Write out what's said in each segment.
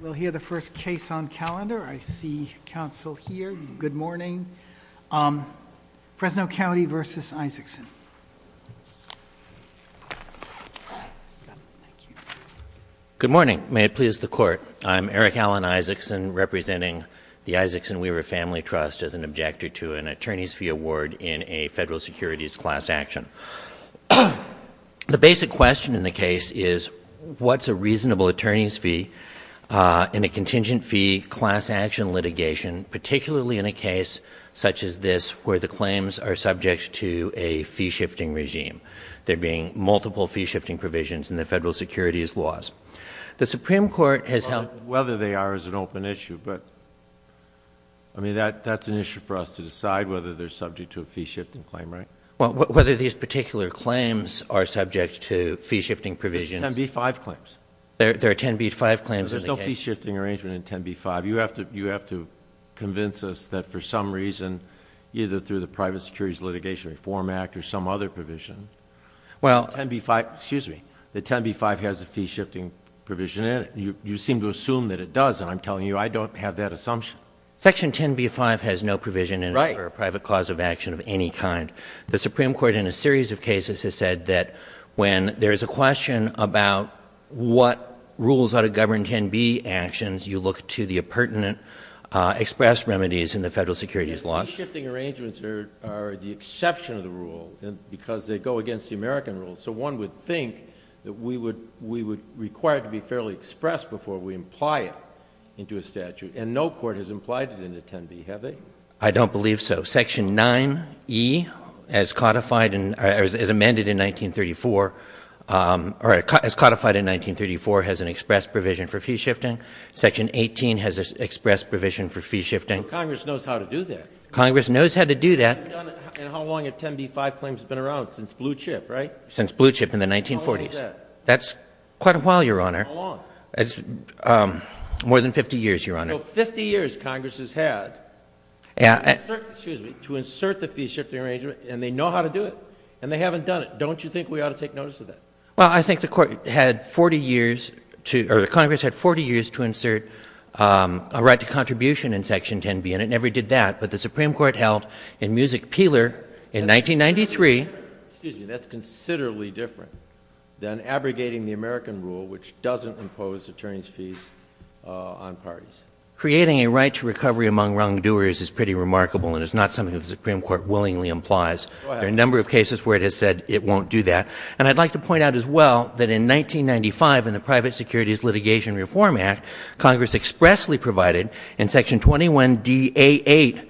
We'll hear the first case on calendar. I see counsel here. Good morning. Fresno County v. Isaacson. Good morning. May it please the Court. I'm Eric Alan Isaacson representing the Isaacson Weaver Family Trust as an objector to an attorney's fee award in a federal securities class action. The basic question in the case is what's a reasonable attorney's fee in a contingent fee class action litigation, particularly in a case such as this where the claims are subject to a fee-shifting regime, there being multiple fee-shifting provisions in the federal securities laws. The Supreme Court has held— Whether they are is an open issue, but that's an issue for us to decide, whether they're subject to a fee-shifting claim, right? Whether these particular claims are subject to fee-shifting provisions— There's 10b-5 claims. There are 10b-5 claims in the case. There's no fee-shifting arrangement in 10b-5. You have to convince us that for some reason, either through the Private Securities Litigation Reform Act or some other provision, that 10b-5 has a fee-shifting provision in it. You seem to assume that it does, and I'm telling you I don't have that assumption. Section 10b-5 has no provision in it for a private cause of action of any kind. The Supreme Court in a series of cases has said that when there is a question about what rules ought to govern 10b actions, you look to the pertinent express remedies in the federal securities laws. Fee-shifting arrangements are the exception of the rule because they go against the American rules. So one would think that we would require it to be fairly expressed before we imply it into a statute, and no court has implied it into 10b, have they? I don't believe so. Section 9e, as codified in or as amended in 1934, or as codified in 1934, has an express provision for fee-shifting. Section 18 has an express provision for fee-shifting. Well, Congress knows how to do that. Congress knows how to do that. And how long have 10b-5 claims been around? Since blue chip, right? Since blue chip in the 1940s. How long was that? That's quite a while, Your Honor. How long? More than 50 years, Your Honor. So 50 years Congress has had to insert the fee-shifting arrangement, and they know how to do it, and they haven't done it. Don't you think we ought to take notice of that? Well, I think the Court had 40 years to or Congress had 40 years to insert a right to contribution in Section 10b, and it never did that. But the Supreme Court held in Music-Peeler in 1993. Excuse me. That's considerably different than abrogating the American rule, which doesn't impose attorney's fees on parties. Creating a right to recovery among wrongdoers is pretty remarkable, and it's not something the Supreme Court willingly implies. Go ahead. There are a number of cases where it has said it won't do that. And I'd like to point out as well that in 1995, in the Private Securities Litigation Reform Act, Congress expressly provided in Section 21-DA8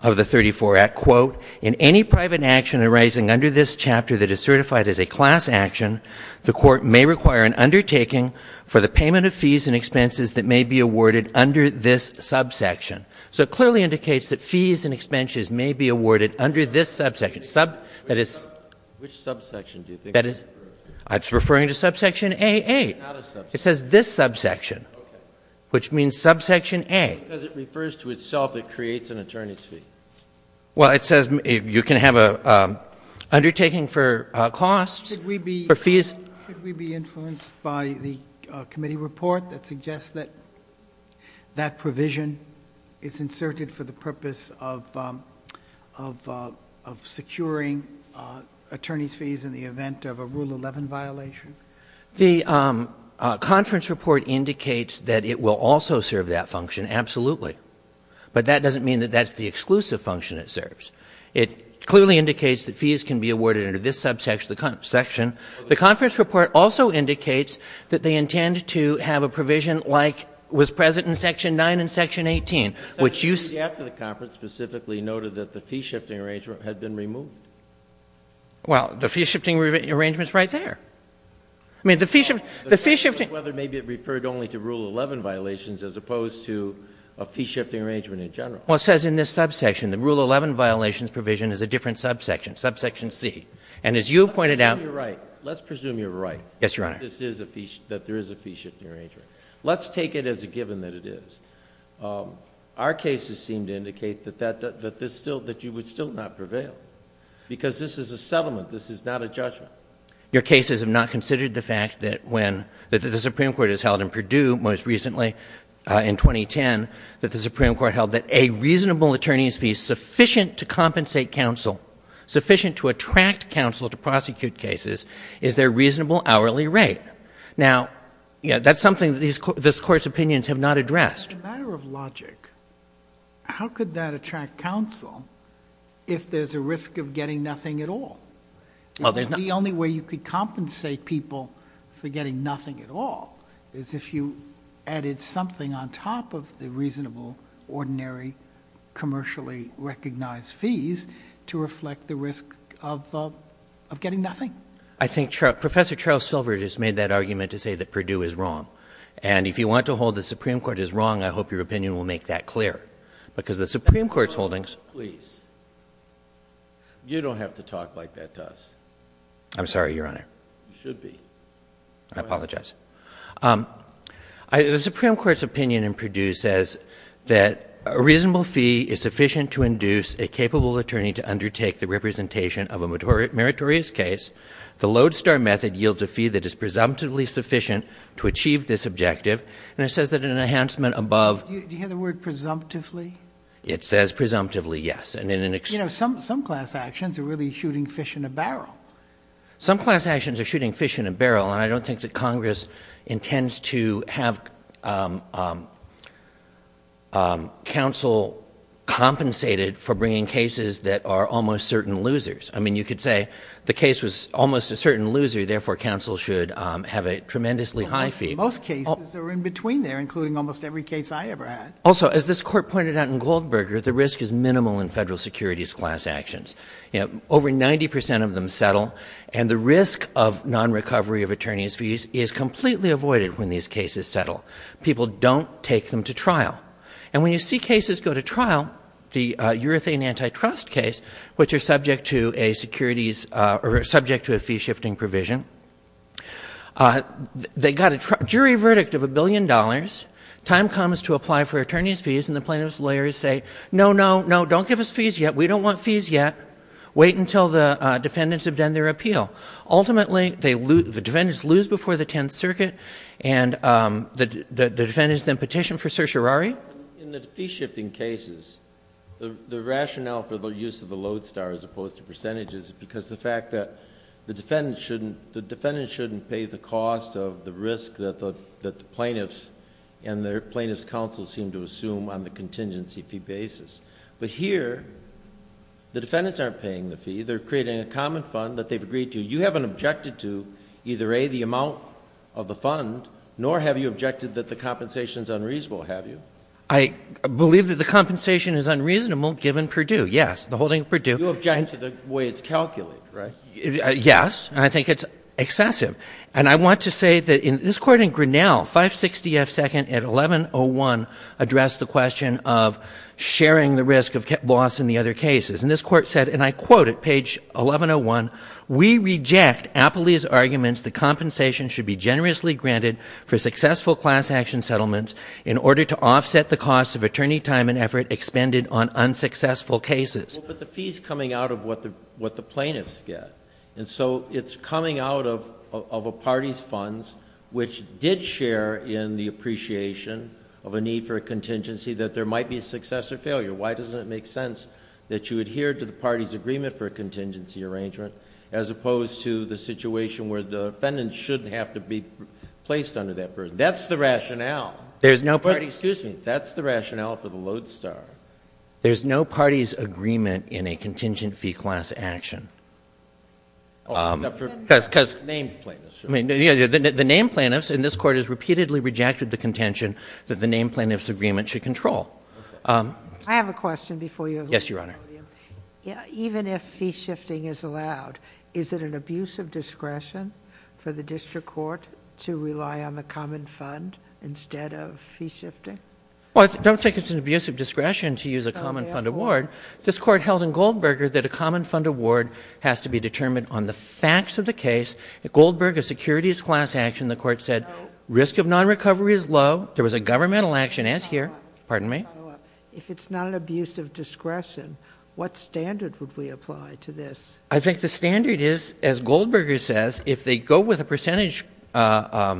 of the 34 Act, quote, in any private action arising under this chapter that is certified as a class action, the Court may require an undertaking for the payment of fees and expenses that may be awarded under this subsection. So it clearly indicates that fees and expenses may be awarded under this subsection. Which subsection do you think? It's referring to subsection AA. It's not a subsection. It says this subsection, which means subsection A. Because it refers to itself, it creates an attorney's fee. Well, it says you can have an undertaking for costs. Could we be influenced by the committee report that suggests that that provision is inserted for the purpose of securing attorney's fees in the event of a Rule 11 violation? The conference report indicates that it will also serve that function, absolutely. But that doesn't mean that that's the exclusive function it serves. It clearly indicates that fees can be awarded under this subsection. The conference report also indicates that they intend to have a provision like was present in Section 9 and Section 18, which you see. After the conference specifically noted that the fee-shifting arrangement had been removed. Well, the fee-shifting arrangement is right there. I mean, the fee-shifting. Whether maybe it referred only to Rule 11 violations as opposed to a fee-shifting arrangement in general. Well, it says in this subsection, the Rule 11 violations provision is a different subsection, subsection C. And as you pointed out. Let's presume you're right. Let's presume you're right. Yes, Your Honor. That there is a fee-shifting arrangement. Let's take it as a given that it is. Our cases seem to indicate that you would still not prevail. Because this is a settlement. This is not a judgment. Your cases have not considered the fact that when the Supreme Court has held in Purdue most recently in 2010, that the Supreme Court held that a reasonable attorney's fee sufficient to compensate counsel, sufficient to attract counsel to prosecute cases, is their reasonable hourly rate. Now, that's something that this Court's opinions have not addressed. As a matter of logic, how could that attract counsel if there's a risk of getting nothing at all? The only way you could compensate people for getting nothing at all is if you added something on top of the reasonable, ordinary, commercially recognized fees to reflect the risk of getting nothing. I think Professor Charles Silver just made that argument to say that Purdue is wrong. And if you want to hold the Supreme Court is wrong, I hope your opinion will make that clear. Because the Supreme Court's holdings. You don't have to talk like that to us. I'm sorry, Your Honor. You should be. I apologize. The Supreme Court's opinion in Purdue says that a reasonable fee is sufficient to induce a capable attorney to undertake the representation of a meritorious case. The lodestar method yields a fee that is presumptively sufficient to achieve this objective. And it says that an enhancement above. Do you hear the word presumptively? It says presumptively yes. You know, some class actions are really shooting fish in a barrel. Some class actions are shooting fish in a barrel. And I don't think that Congress intends to have counsel compensated for bringing cases that are almost certain losers. I mean, you could say the case was almost a certain loser. Therefore, counsel should have a tremendously high fee. Most cases are in between there, including almost every case I ever had. Also, as this court pointed out in Goldberger, the risk is minimal in federal securities class actions. Over 90 percent of them settle, and the risk of non-recovery of attorney's fees is completely avoided when these cases settle. People don't take them to trial. And when you see cases go to trial, the urethane antitrust case, which are subject to a securities or subject to a fee-shifting provision, they got a jury verdict of a billion dollars. Time comes to apply for attorney's fees, and the plaintiff's lawyers say, no, no, no, don't give us fees yet. We don't want fees yet. Wait until the defendants have done their appeal. Ultimately, the defendants lose before the Tenth Circuit, and the defendants then petition for certiorari. In the fee-shifting cases, the rationale for the use of the Lodestar as opposed to percentages is because the fact that the defendant shouldn't pay the cost of the risk that the plaintiffs and their plaintiff's counsel seem to assume on the contingency fee basis. But here, the defendants aren't paying the fee. They're creating a common fund that they've agreed to. You haven't objected to either, A, the amount of the fund, nor have you objected that the compensation is unreasonable, have you? I believe that the compensation is unreasonable given Purdue, yes, the holding of Purdue. You object to the way it's calculated, right? Yes. And I think it's excessive. And I want to say that in this court in Grinnell, 560 F. 2nd at 1101 addressed the question of sharing the risk of loss in the other cases. And this court said, and I quote at page 1101, we reject Apley's arguments that compensation should be generously granted for successful class action settlements in order to offset the cost of attorney time and effort expended on unsuccessful cases. But the fee's coming out of what the plaintiffs get. And so it's coming out of a party's funds, which did share in the appreciation of a need for a contingency, that there might be a success or failure. Why doesn't it make sense that you adhere to the party's agreement for a contingency arrangement, as opposed to the situation where the defendants shouldn't have to be placed under that burden? That's the rationale. There's no party's— Excuse me. That's the rationale for the lodestar. There's no party's agreement in a contingent fee class action. Except for named plaintiffs. The named plaintiffs, and this court has repeatedly rejected the contention that the named plaintiffs' agreement should control. I have a question before you. Yes, Your Honor. Even if fee shifting is allowed, is it an abuse of discretion for the district court to rely on the common fund instead of fee shifting? Well, I don't think it's an abuse of discretion to use a common fund award. This court held in Goldberger that a common fund award has to be determined on the facts of the case. At Goldberger's securities class action, the court said risk of non-recovery is low. There was a governmental action, as here. Pardon me? If it's not an abuse of discretion, what standard would we apply to this? I think the standard is, as Goldberger says, if they go with a percentage as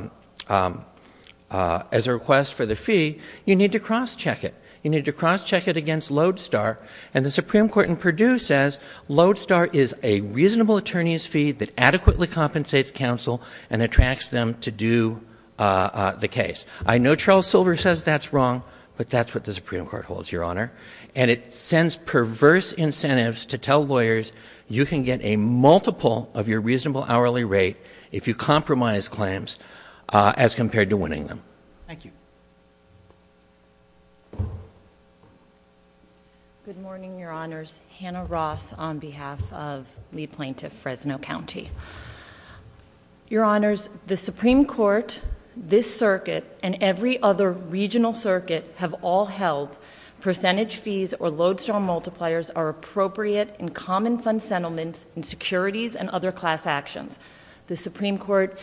a request for the fee, you need to cross-check it. You need to cross-check it against lodestar. And the Supreme Court in Purdue says lodestar is a reasonable attorney's fee that adequately compensates counsel and attracts them to do the case. I know Charles Silver says that's wrong, but that's what the Supreme Court holds, Your Honor. And it sends perverse incentives to tell lawyers you can get a multiple of your reasonable hourly rate if you compromise claims as compared to winning them. Thank you. Good morning, Your Honors. Hannah Ross on behalf of lead plaintiff Fresno County. Your Honors, the Supreme Court, this circuit, and every other regional circuit have all held percentage fees or lodestar multipliers are appropriate in common fund settlements and securities and other class actions. The Supreme Court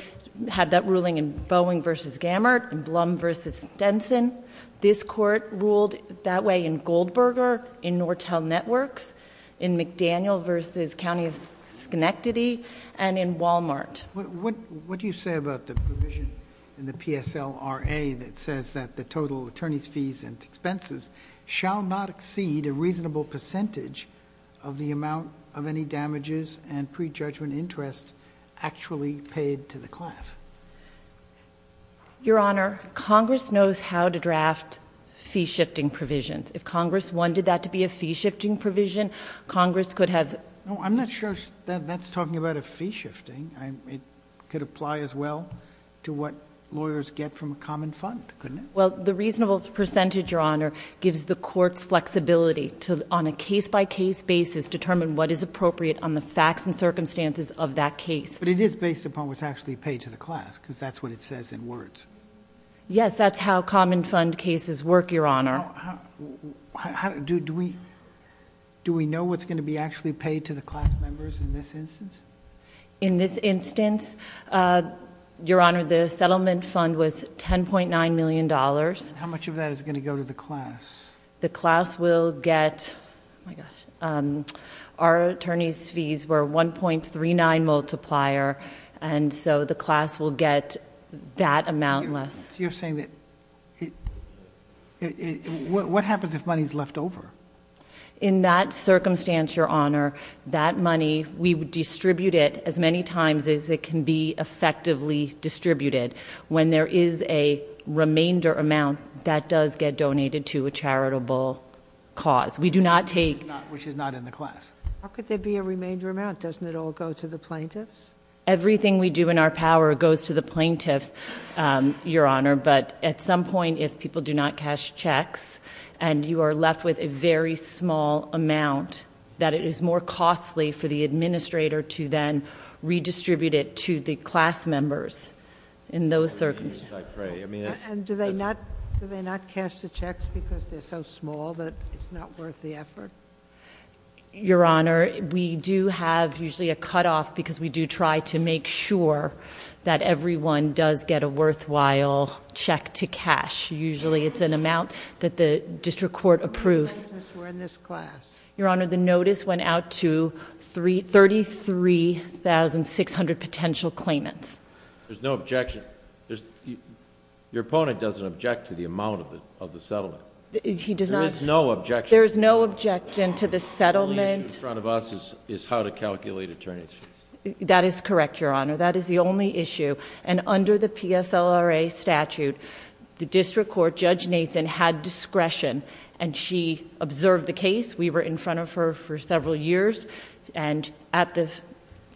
had that ruling in Boeing v. Gammert and Blum v. Stenson. This court ruled that way in Goldberger, in Nortel Networks, in McDaniel v. County of Schenectady, and in Walmart. What do you say about the provision in the PSLRA that says that the total attorney's fees and expenses shall not exceed a reasonable percentage of the amount of any damages and prejudgment interest actually paid to the class? Your Honor, Congress knows how to draft fee-shifting provisions. If Congress wanted that to be a fee-shifting provision, Congress could have— No, I'm not sure that that's talking about a fee-shifting. It could apply as well to what lawyers get from a common fund, couldn't it? Well, the reasonable percentage, Your Honor, gives the courts flexibility to, on a case-by-case basis, determine what is appropriate on the facts and circumstances of that case. But it is based upon what's actually paid to the class, because that's what it says in words. Yes, that's how common fund cases work, Your Honor. Do we know what's going to be actually paid to the class members in this instance? In this instance, Your Honor, the settlement fund was $10.9 million. How much of that is going to go to the class? The class will get... Oh, my gosh. Our attorney's fees were $1.39 multiplier, and so the class will get that amount less. You're saying that... What happens if money's left over? In that circumstance, Your Honor, that money, we would distribute it as many times as it can be effectively distributed. When there is a remainder amount, that does get donated to a charitable cause. We do not take... Which is not in the class. How could there be a remainder amount? Doesn't it all go to the plaintiffs? Everything we do in our power goes to the plaintiffs, Your Honor. But at some point, if people do not cash checks, and you are left with a very small amount, that it is more costly for the administrator to then redistribute it to the class members in those circumstances. And do they not cash the checks because they're so small that it's not worth the effort? Your Honor, we do have usually a cutoff because we do try to make sure that everyone does get a worthwhile check to cash. Usually it's an amount that the district court approves. The plaintiffs were in this class. Your Honor, the notice went out to 33,600 potential claimants. There's no objection. Your opponent doesn't object to the amount of the settlement. He does not... There is no objection. There is no objection to the settlement. The only issue in front of us is how to calculate attorney's fees. That is correct, Your Honor. That is the only issue. And under the PSLRA statute, the district court, Judge Nathan, had discretion. And she observed the case. We were in front of her for several years. And at the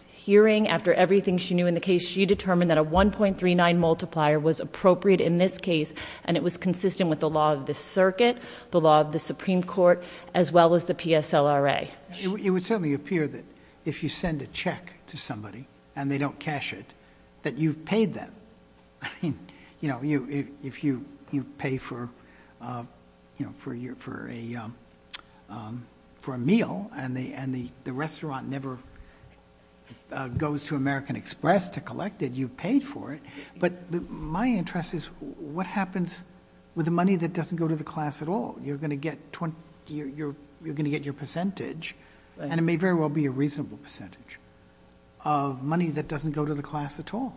hearing, after everything she knew in the case, she determined that a 1.39 multiplier was appropriate in this case. And it was consistent with the law of the circuit, the law of the Supreme Court, as well as the PSLRA. It would certainly appear that if you send a check to somebody and they don't cash it, that you've paid them. I mean, you know, if you pay for a meal and the restaurant never goes to American Express to collect it, you've paid for it. But my interest is what happens with the money that doesn't go to the class at all? You're going to get your percentage, and it may very well be a reasonable percentage, of money that doesn't go to the class at all.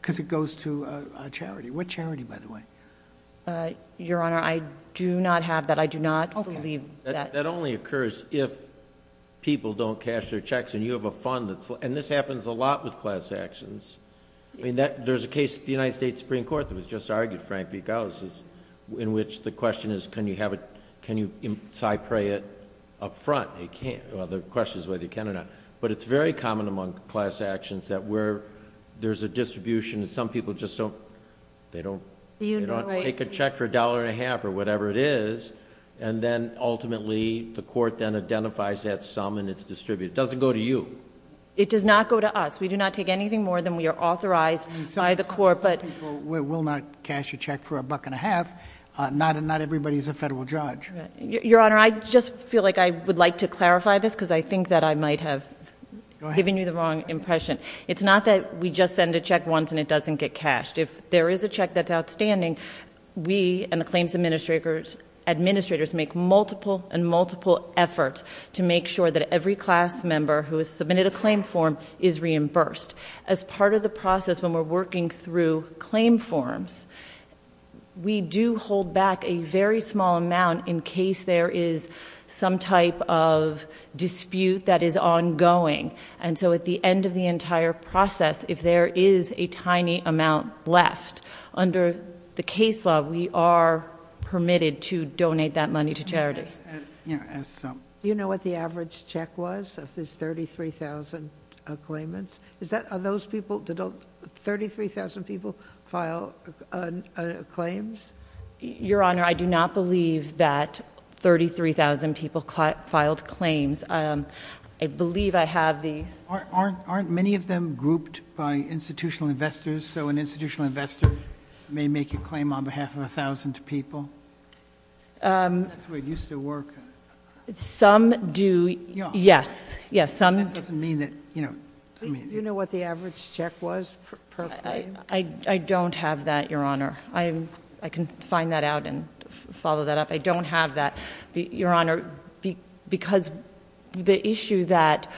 Because it goes to a charity. What charity, by the way? Your Honor, I do not have that. I do not believe that. That only occurs if people don't cash their checks and you have a fund that's... And this happens a lot with class actions. I mean, there's a case in the United States Supreme Court that was just argued, Frank Vigal, in which the question is, can you interpret it up front? Well, the question is whether you can or not. But it's very common among class actions that where there's a distribution and some people just don't... They don't take a check for a dollar and a half or whatever it is, and then ultimately the court then identifies that sum and it's distributed. It doesn't go to you. It does not go to us. We do not take anything more than we are authorized by the court, but... Some people will not cash a check for a buck and a half. Not everybody is a federal judge. Your Honor, I just feel like I would like to clarify this because I think that I might have given you the wrong impression. It's not that we just send a check once and it doesn't get cashed. If there is a check that's outstanding, we and the claims administrators make multiple and multiple efforts to make sure that every class member who has submitted a claim form is reimbursed. As part of the process when we're working through claim forms, we do hold back a very small amount in case there is some type of dispute that is ongoing. At the end of the entire process, if there is a tiny amount left, under the case law, we are permitted to donate that money to charities. Do you know what the average check was of those 33,000 claimants? Are those people... Did 33,000 people file claims? Your Honor, I do not believe that 33,000 people filed claims. I believe I have the... Aren't many of them grouped by institutional investors? So an institutional investor may make a claim on behalf of 1,000 people? That's the way it used to work. Some do, yes. That doesn't mean that... Do you know what the average check was per claim? I don't have that, Your Honor. I can find that out and follow that up. I don't have that. Your Honor, because the issue that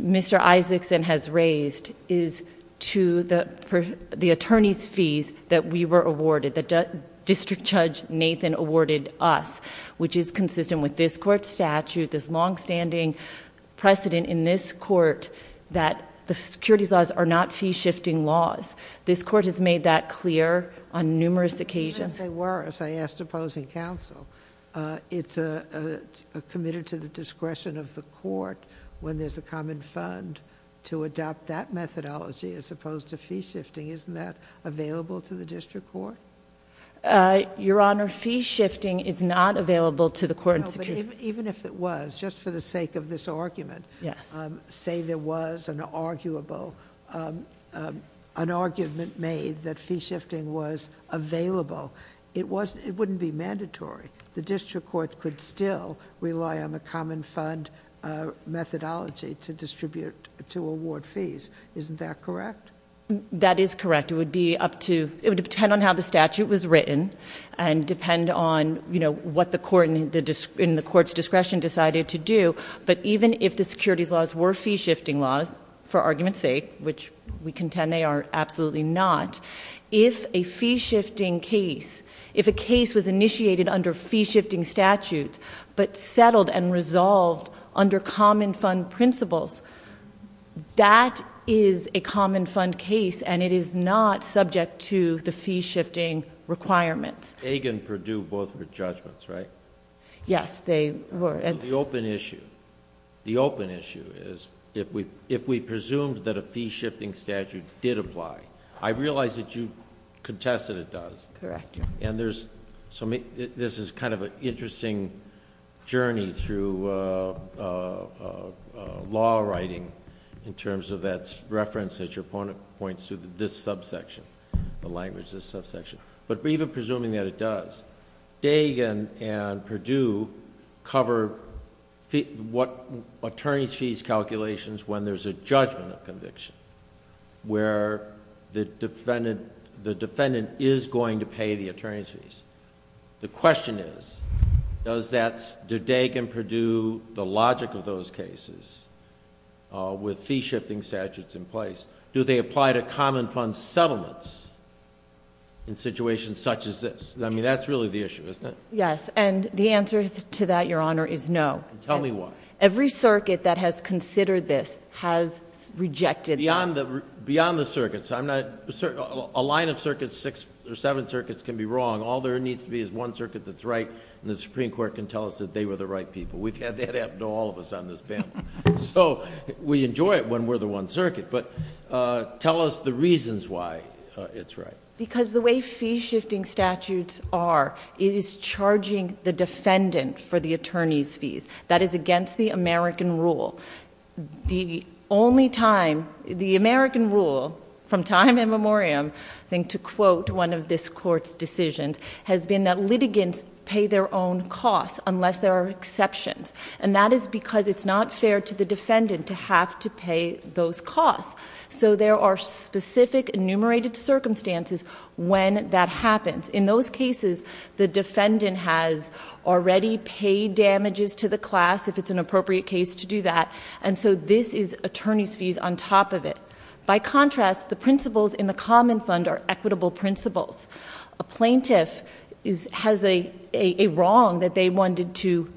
Mr. Isaacson has raised is to the attorney's fees that we were awarded, that District Judge Nathan awarded us, which is consistent with this court's statute, this longstanding precedent in this court, that the securities laws are not fee-shifting laws. This court has made that clear on numerous occasions. They were, as I asked opposing counsel. It's a committed to the discretion of the court when there's a common fund to adopt that methodology as opposed to fee-shifting. Isn't that available to the district court? Your Honor, fee-shifting is not available to the court in... Even if it was, just for the sake of this argument... Yes.... say there was an arguable... an argument made that fee-shifting was available, it wouldn't be mandatory. The district court could still rely on the common fund methodology to award fees. Isn't that correct? That is correct. It would be up to... It would depend on how the statute was written and depend on what the court in the court's discretion decided to do. But even if the securities laws were fee-shifting laws, for argument's sake, which we contend they are absolutely not, if a fee-shifting case... if a case was initiated under fee-shifting statutes, but settled and resolved under common fund principles, that is a common fund case, and it is not subject to the fee-shifting requirements. Aig and Perdue, both were judgments, right? Yes, they were. The open issue is, if we presumed that a fee-shifting statute did apply, I realize that you contest that it does. Correct. This is kind of an interesting journey through law writing in terms of that reference that your opponent points to, this subsection, the language of this subsection. But even presuming that it does, Aig and Perdue cover what attorney's fees calculations when there's a judgment of conviction, where the defendant is going to pay the attorney's fees. The question is, do Aig and Perdue, the logic of those cases, with fee-shifting statutes in place, do they apply to common fund settlements in situations such as this? I mean, that's really the issue, isn't it? Yes, and the answer to that, Your Honor, is no. Tell me why. Every circuit that has considered this has rejected that. Beyond the circuits, I'm not... a line of circuits, six or seven circuits, can be wrong. All there needs to be is one circuit that's right, and the Supreme Court can tell us that they were the right people. We've had that happen to all of us on this panel. So, we enjoy it when we're the one circuit, but tell us the reasons why it's right. Because the way fee-shifting statutes are, it is charging the defendant for the attorney's fees. That is against the American rule. The only time... the American rule, from time immemorial, I think, to quote one of this Court's decisions, has been that litigants pay their own costs unless there are exceptions. And that is because it's not fair to the defendant to have to pay those costs. So, there are specific enumerated circumstances when that happens. In those cases, the defendant has already paid damages to the class, if it's an appropriate case to do that. And so, this is attorney's fees on top of it. By contrast, the principles in the Common Fund are equitable principles. A plaintiff has a wrong that they wanted to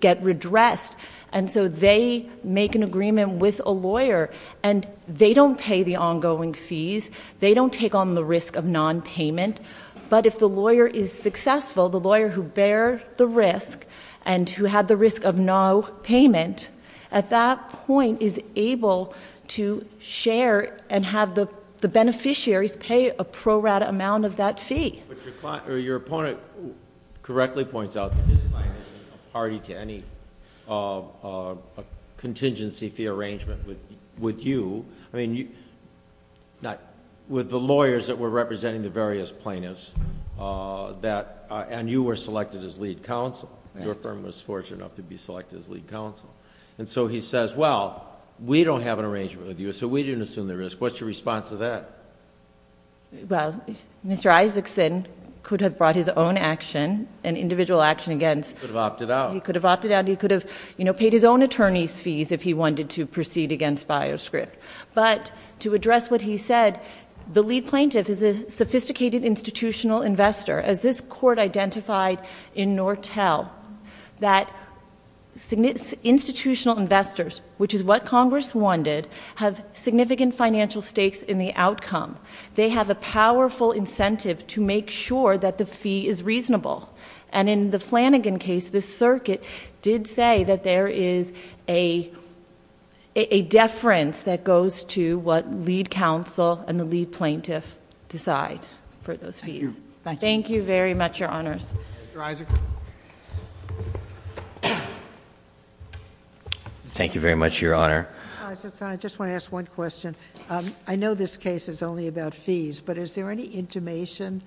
get redressed. And so, they make an agreement with a lawyer, and they don't pay the ongoing fees. They don't take on the risk of non-payment. But if the lawyer is successful, the lawyer who bear the risk, and who had the risk of no payment, at that point is able to share and have the beneficiaries pay a pro rata amount of that fee. But your opponent correctly points out that this client isn't a party to any contingency fee arrangement with you. I mean, with the lawyers that were representing the various plaintiffs, and you were selected as lead counsel. Your firm was fortunate enough to be selected as lead counsel. And so, he says, well, we don't have an arrangement with you, so we didn't assume the risk. What's your response to that? Well, Mr. Isaacson could have brought his own action, an individual action against- He could have opted out. He could have opted out. He could have paid his own attorney's fees if he wanted to proceed against bioscript. But to address what he said, the lead plaintiff is a sophisticated institutional investor. As this court identified in Nortel, that institutional investors, which is what Congress wanted, have significant financial stakes in the outcome. They have a powerful incentive to make sure that the fee is reasonable. And in the Flanagan case, the circuit did say that there is a deference that goes to what lead counsel and the lead plaintiff decide for those fees. Thank you. Thank you very much, Your Honors. Mr. Isaacson. Thank you very much, Your Honor. Mr. Isaacson, I just want to ask one question. I know this case is only about fees, but is there any intimation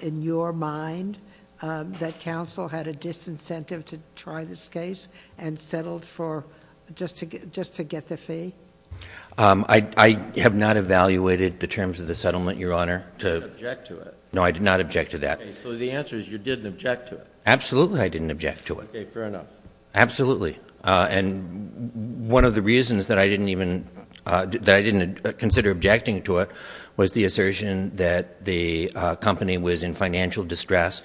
in your mind that counsel had a disincentive to try this case and settled just to get the fee? I have not evaluated the terms of the settlement, Your Honor. You didn't object to it. No, I did not object to that. So the answer is you didn't object to it. Absolutely I didn't object to it. Okay, fair enough. Absolutely. And one of the reasons that I didn't even consider objecting to it was the assertion that the company was in financial distress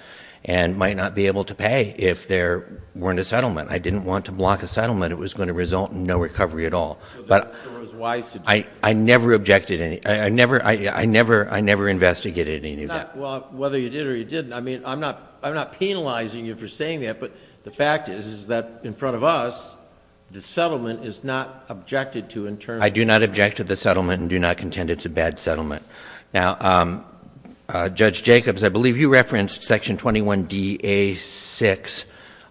and might not be able to pay if there weren't a settlement. I didn't want to block a settlement. It was going to result in no recovery at all. I never objected. I never investigated any of that. Well, whether you did or you didn't, I mean, I'm not penalizing you for saying that, but the fact is that in front of us the settlement is not objected to in terms of the settlement. I do not object to the settlement and do not contend it's a bad settlement. Now, Judge Jacobs, I believe you referenced Section 21dA6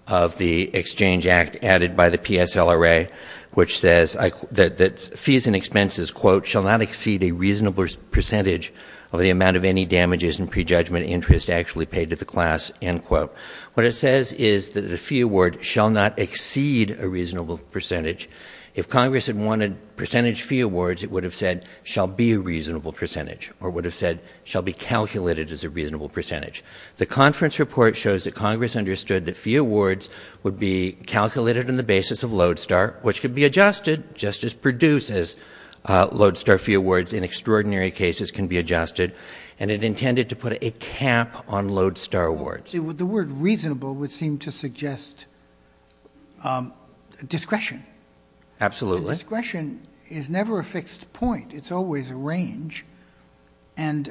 of the Exchange Act added by the PSLRA, which says that fees and expenses, quote, shall not exceed a reasonable percentage of the amount of any damages and prejudgment interest actually paid to the class, end quote. What it says is that a fee award shall not exceed a reasonable percentage. If Congress had wanted percentage fee awards, it would have said shall be a reasonable percentage or would have said shall be calculated as a reasonable percentage. The conference report shows that Congress understood that fee awards would be calculated on the basis of Lodestar, which could be adjusted just as Purdue says Lodestar fee awards in extraordinary cases can be adjusted, and it intended to put a cap on Lodestar awards. The word reasonable would seem to suggest discretion. Absolutely. Discretion is never a fixed point. It's always a range, and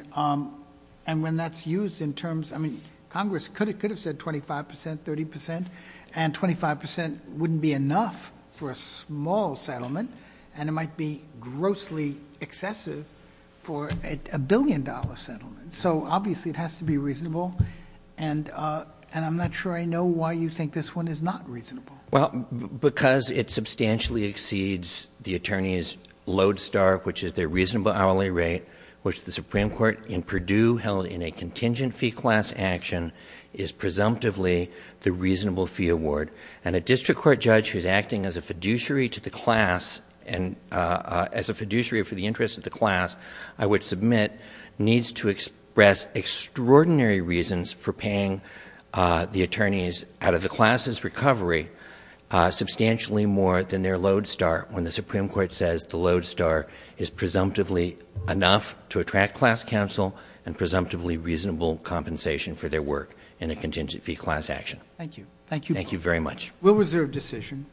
when that's used in terms, I mean, Congress could have said 25 percent, 30 percent, and 25 percent wouldn't be enough for a small settlement, and it might be grossly excessive for a billion-dollar settlement. So obviously it has to be reasonable, and I'm not sure I know why you think this one is not reasonable. Well, because it substantially exceeds the attorney's Lodestar, which is their reasonable hourly rate, which the Supreme Court in Purdue held in a contingent fee class action is presumptively the reasonable fee award. And a district court judge who's acting as a fiduciary to the class and as a fiduciary for the interest of the class, I would submit, needs to express extraordinary reasons for paying the attorneys out of the class's recovery substantially more than their Lodestar when the Supreme Court says the Lodestar is presumptively enough to attract class counsel and presumptively reasonable compensation for their work in a contingent fee class action. Thank you. Thank you. Thank you very much. We'll reserve decision.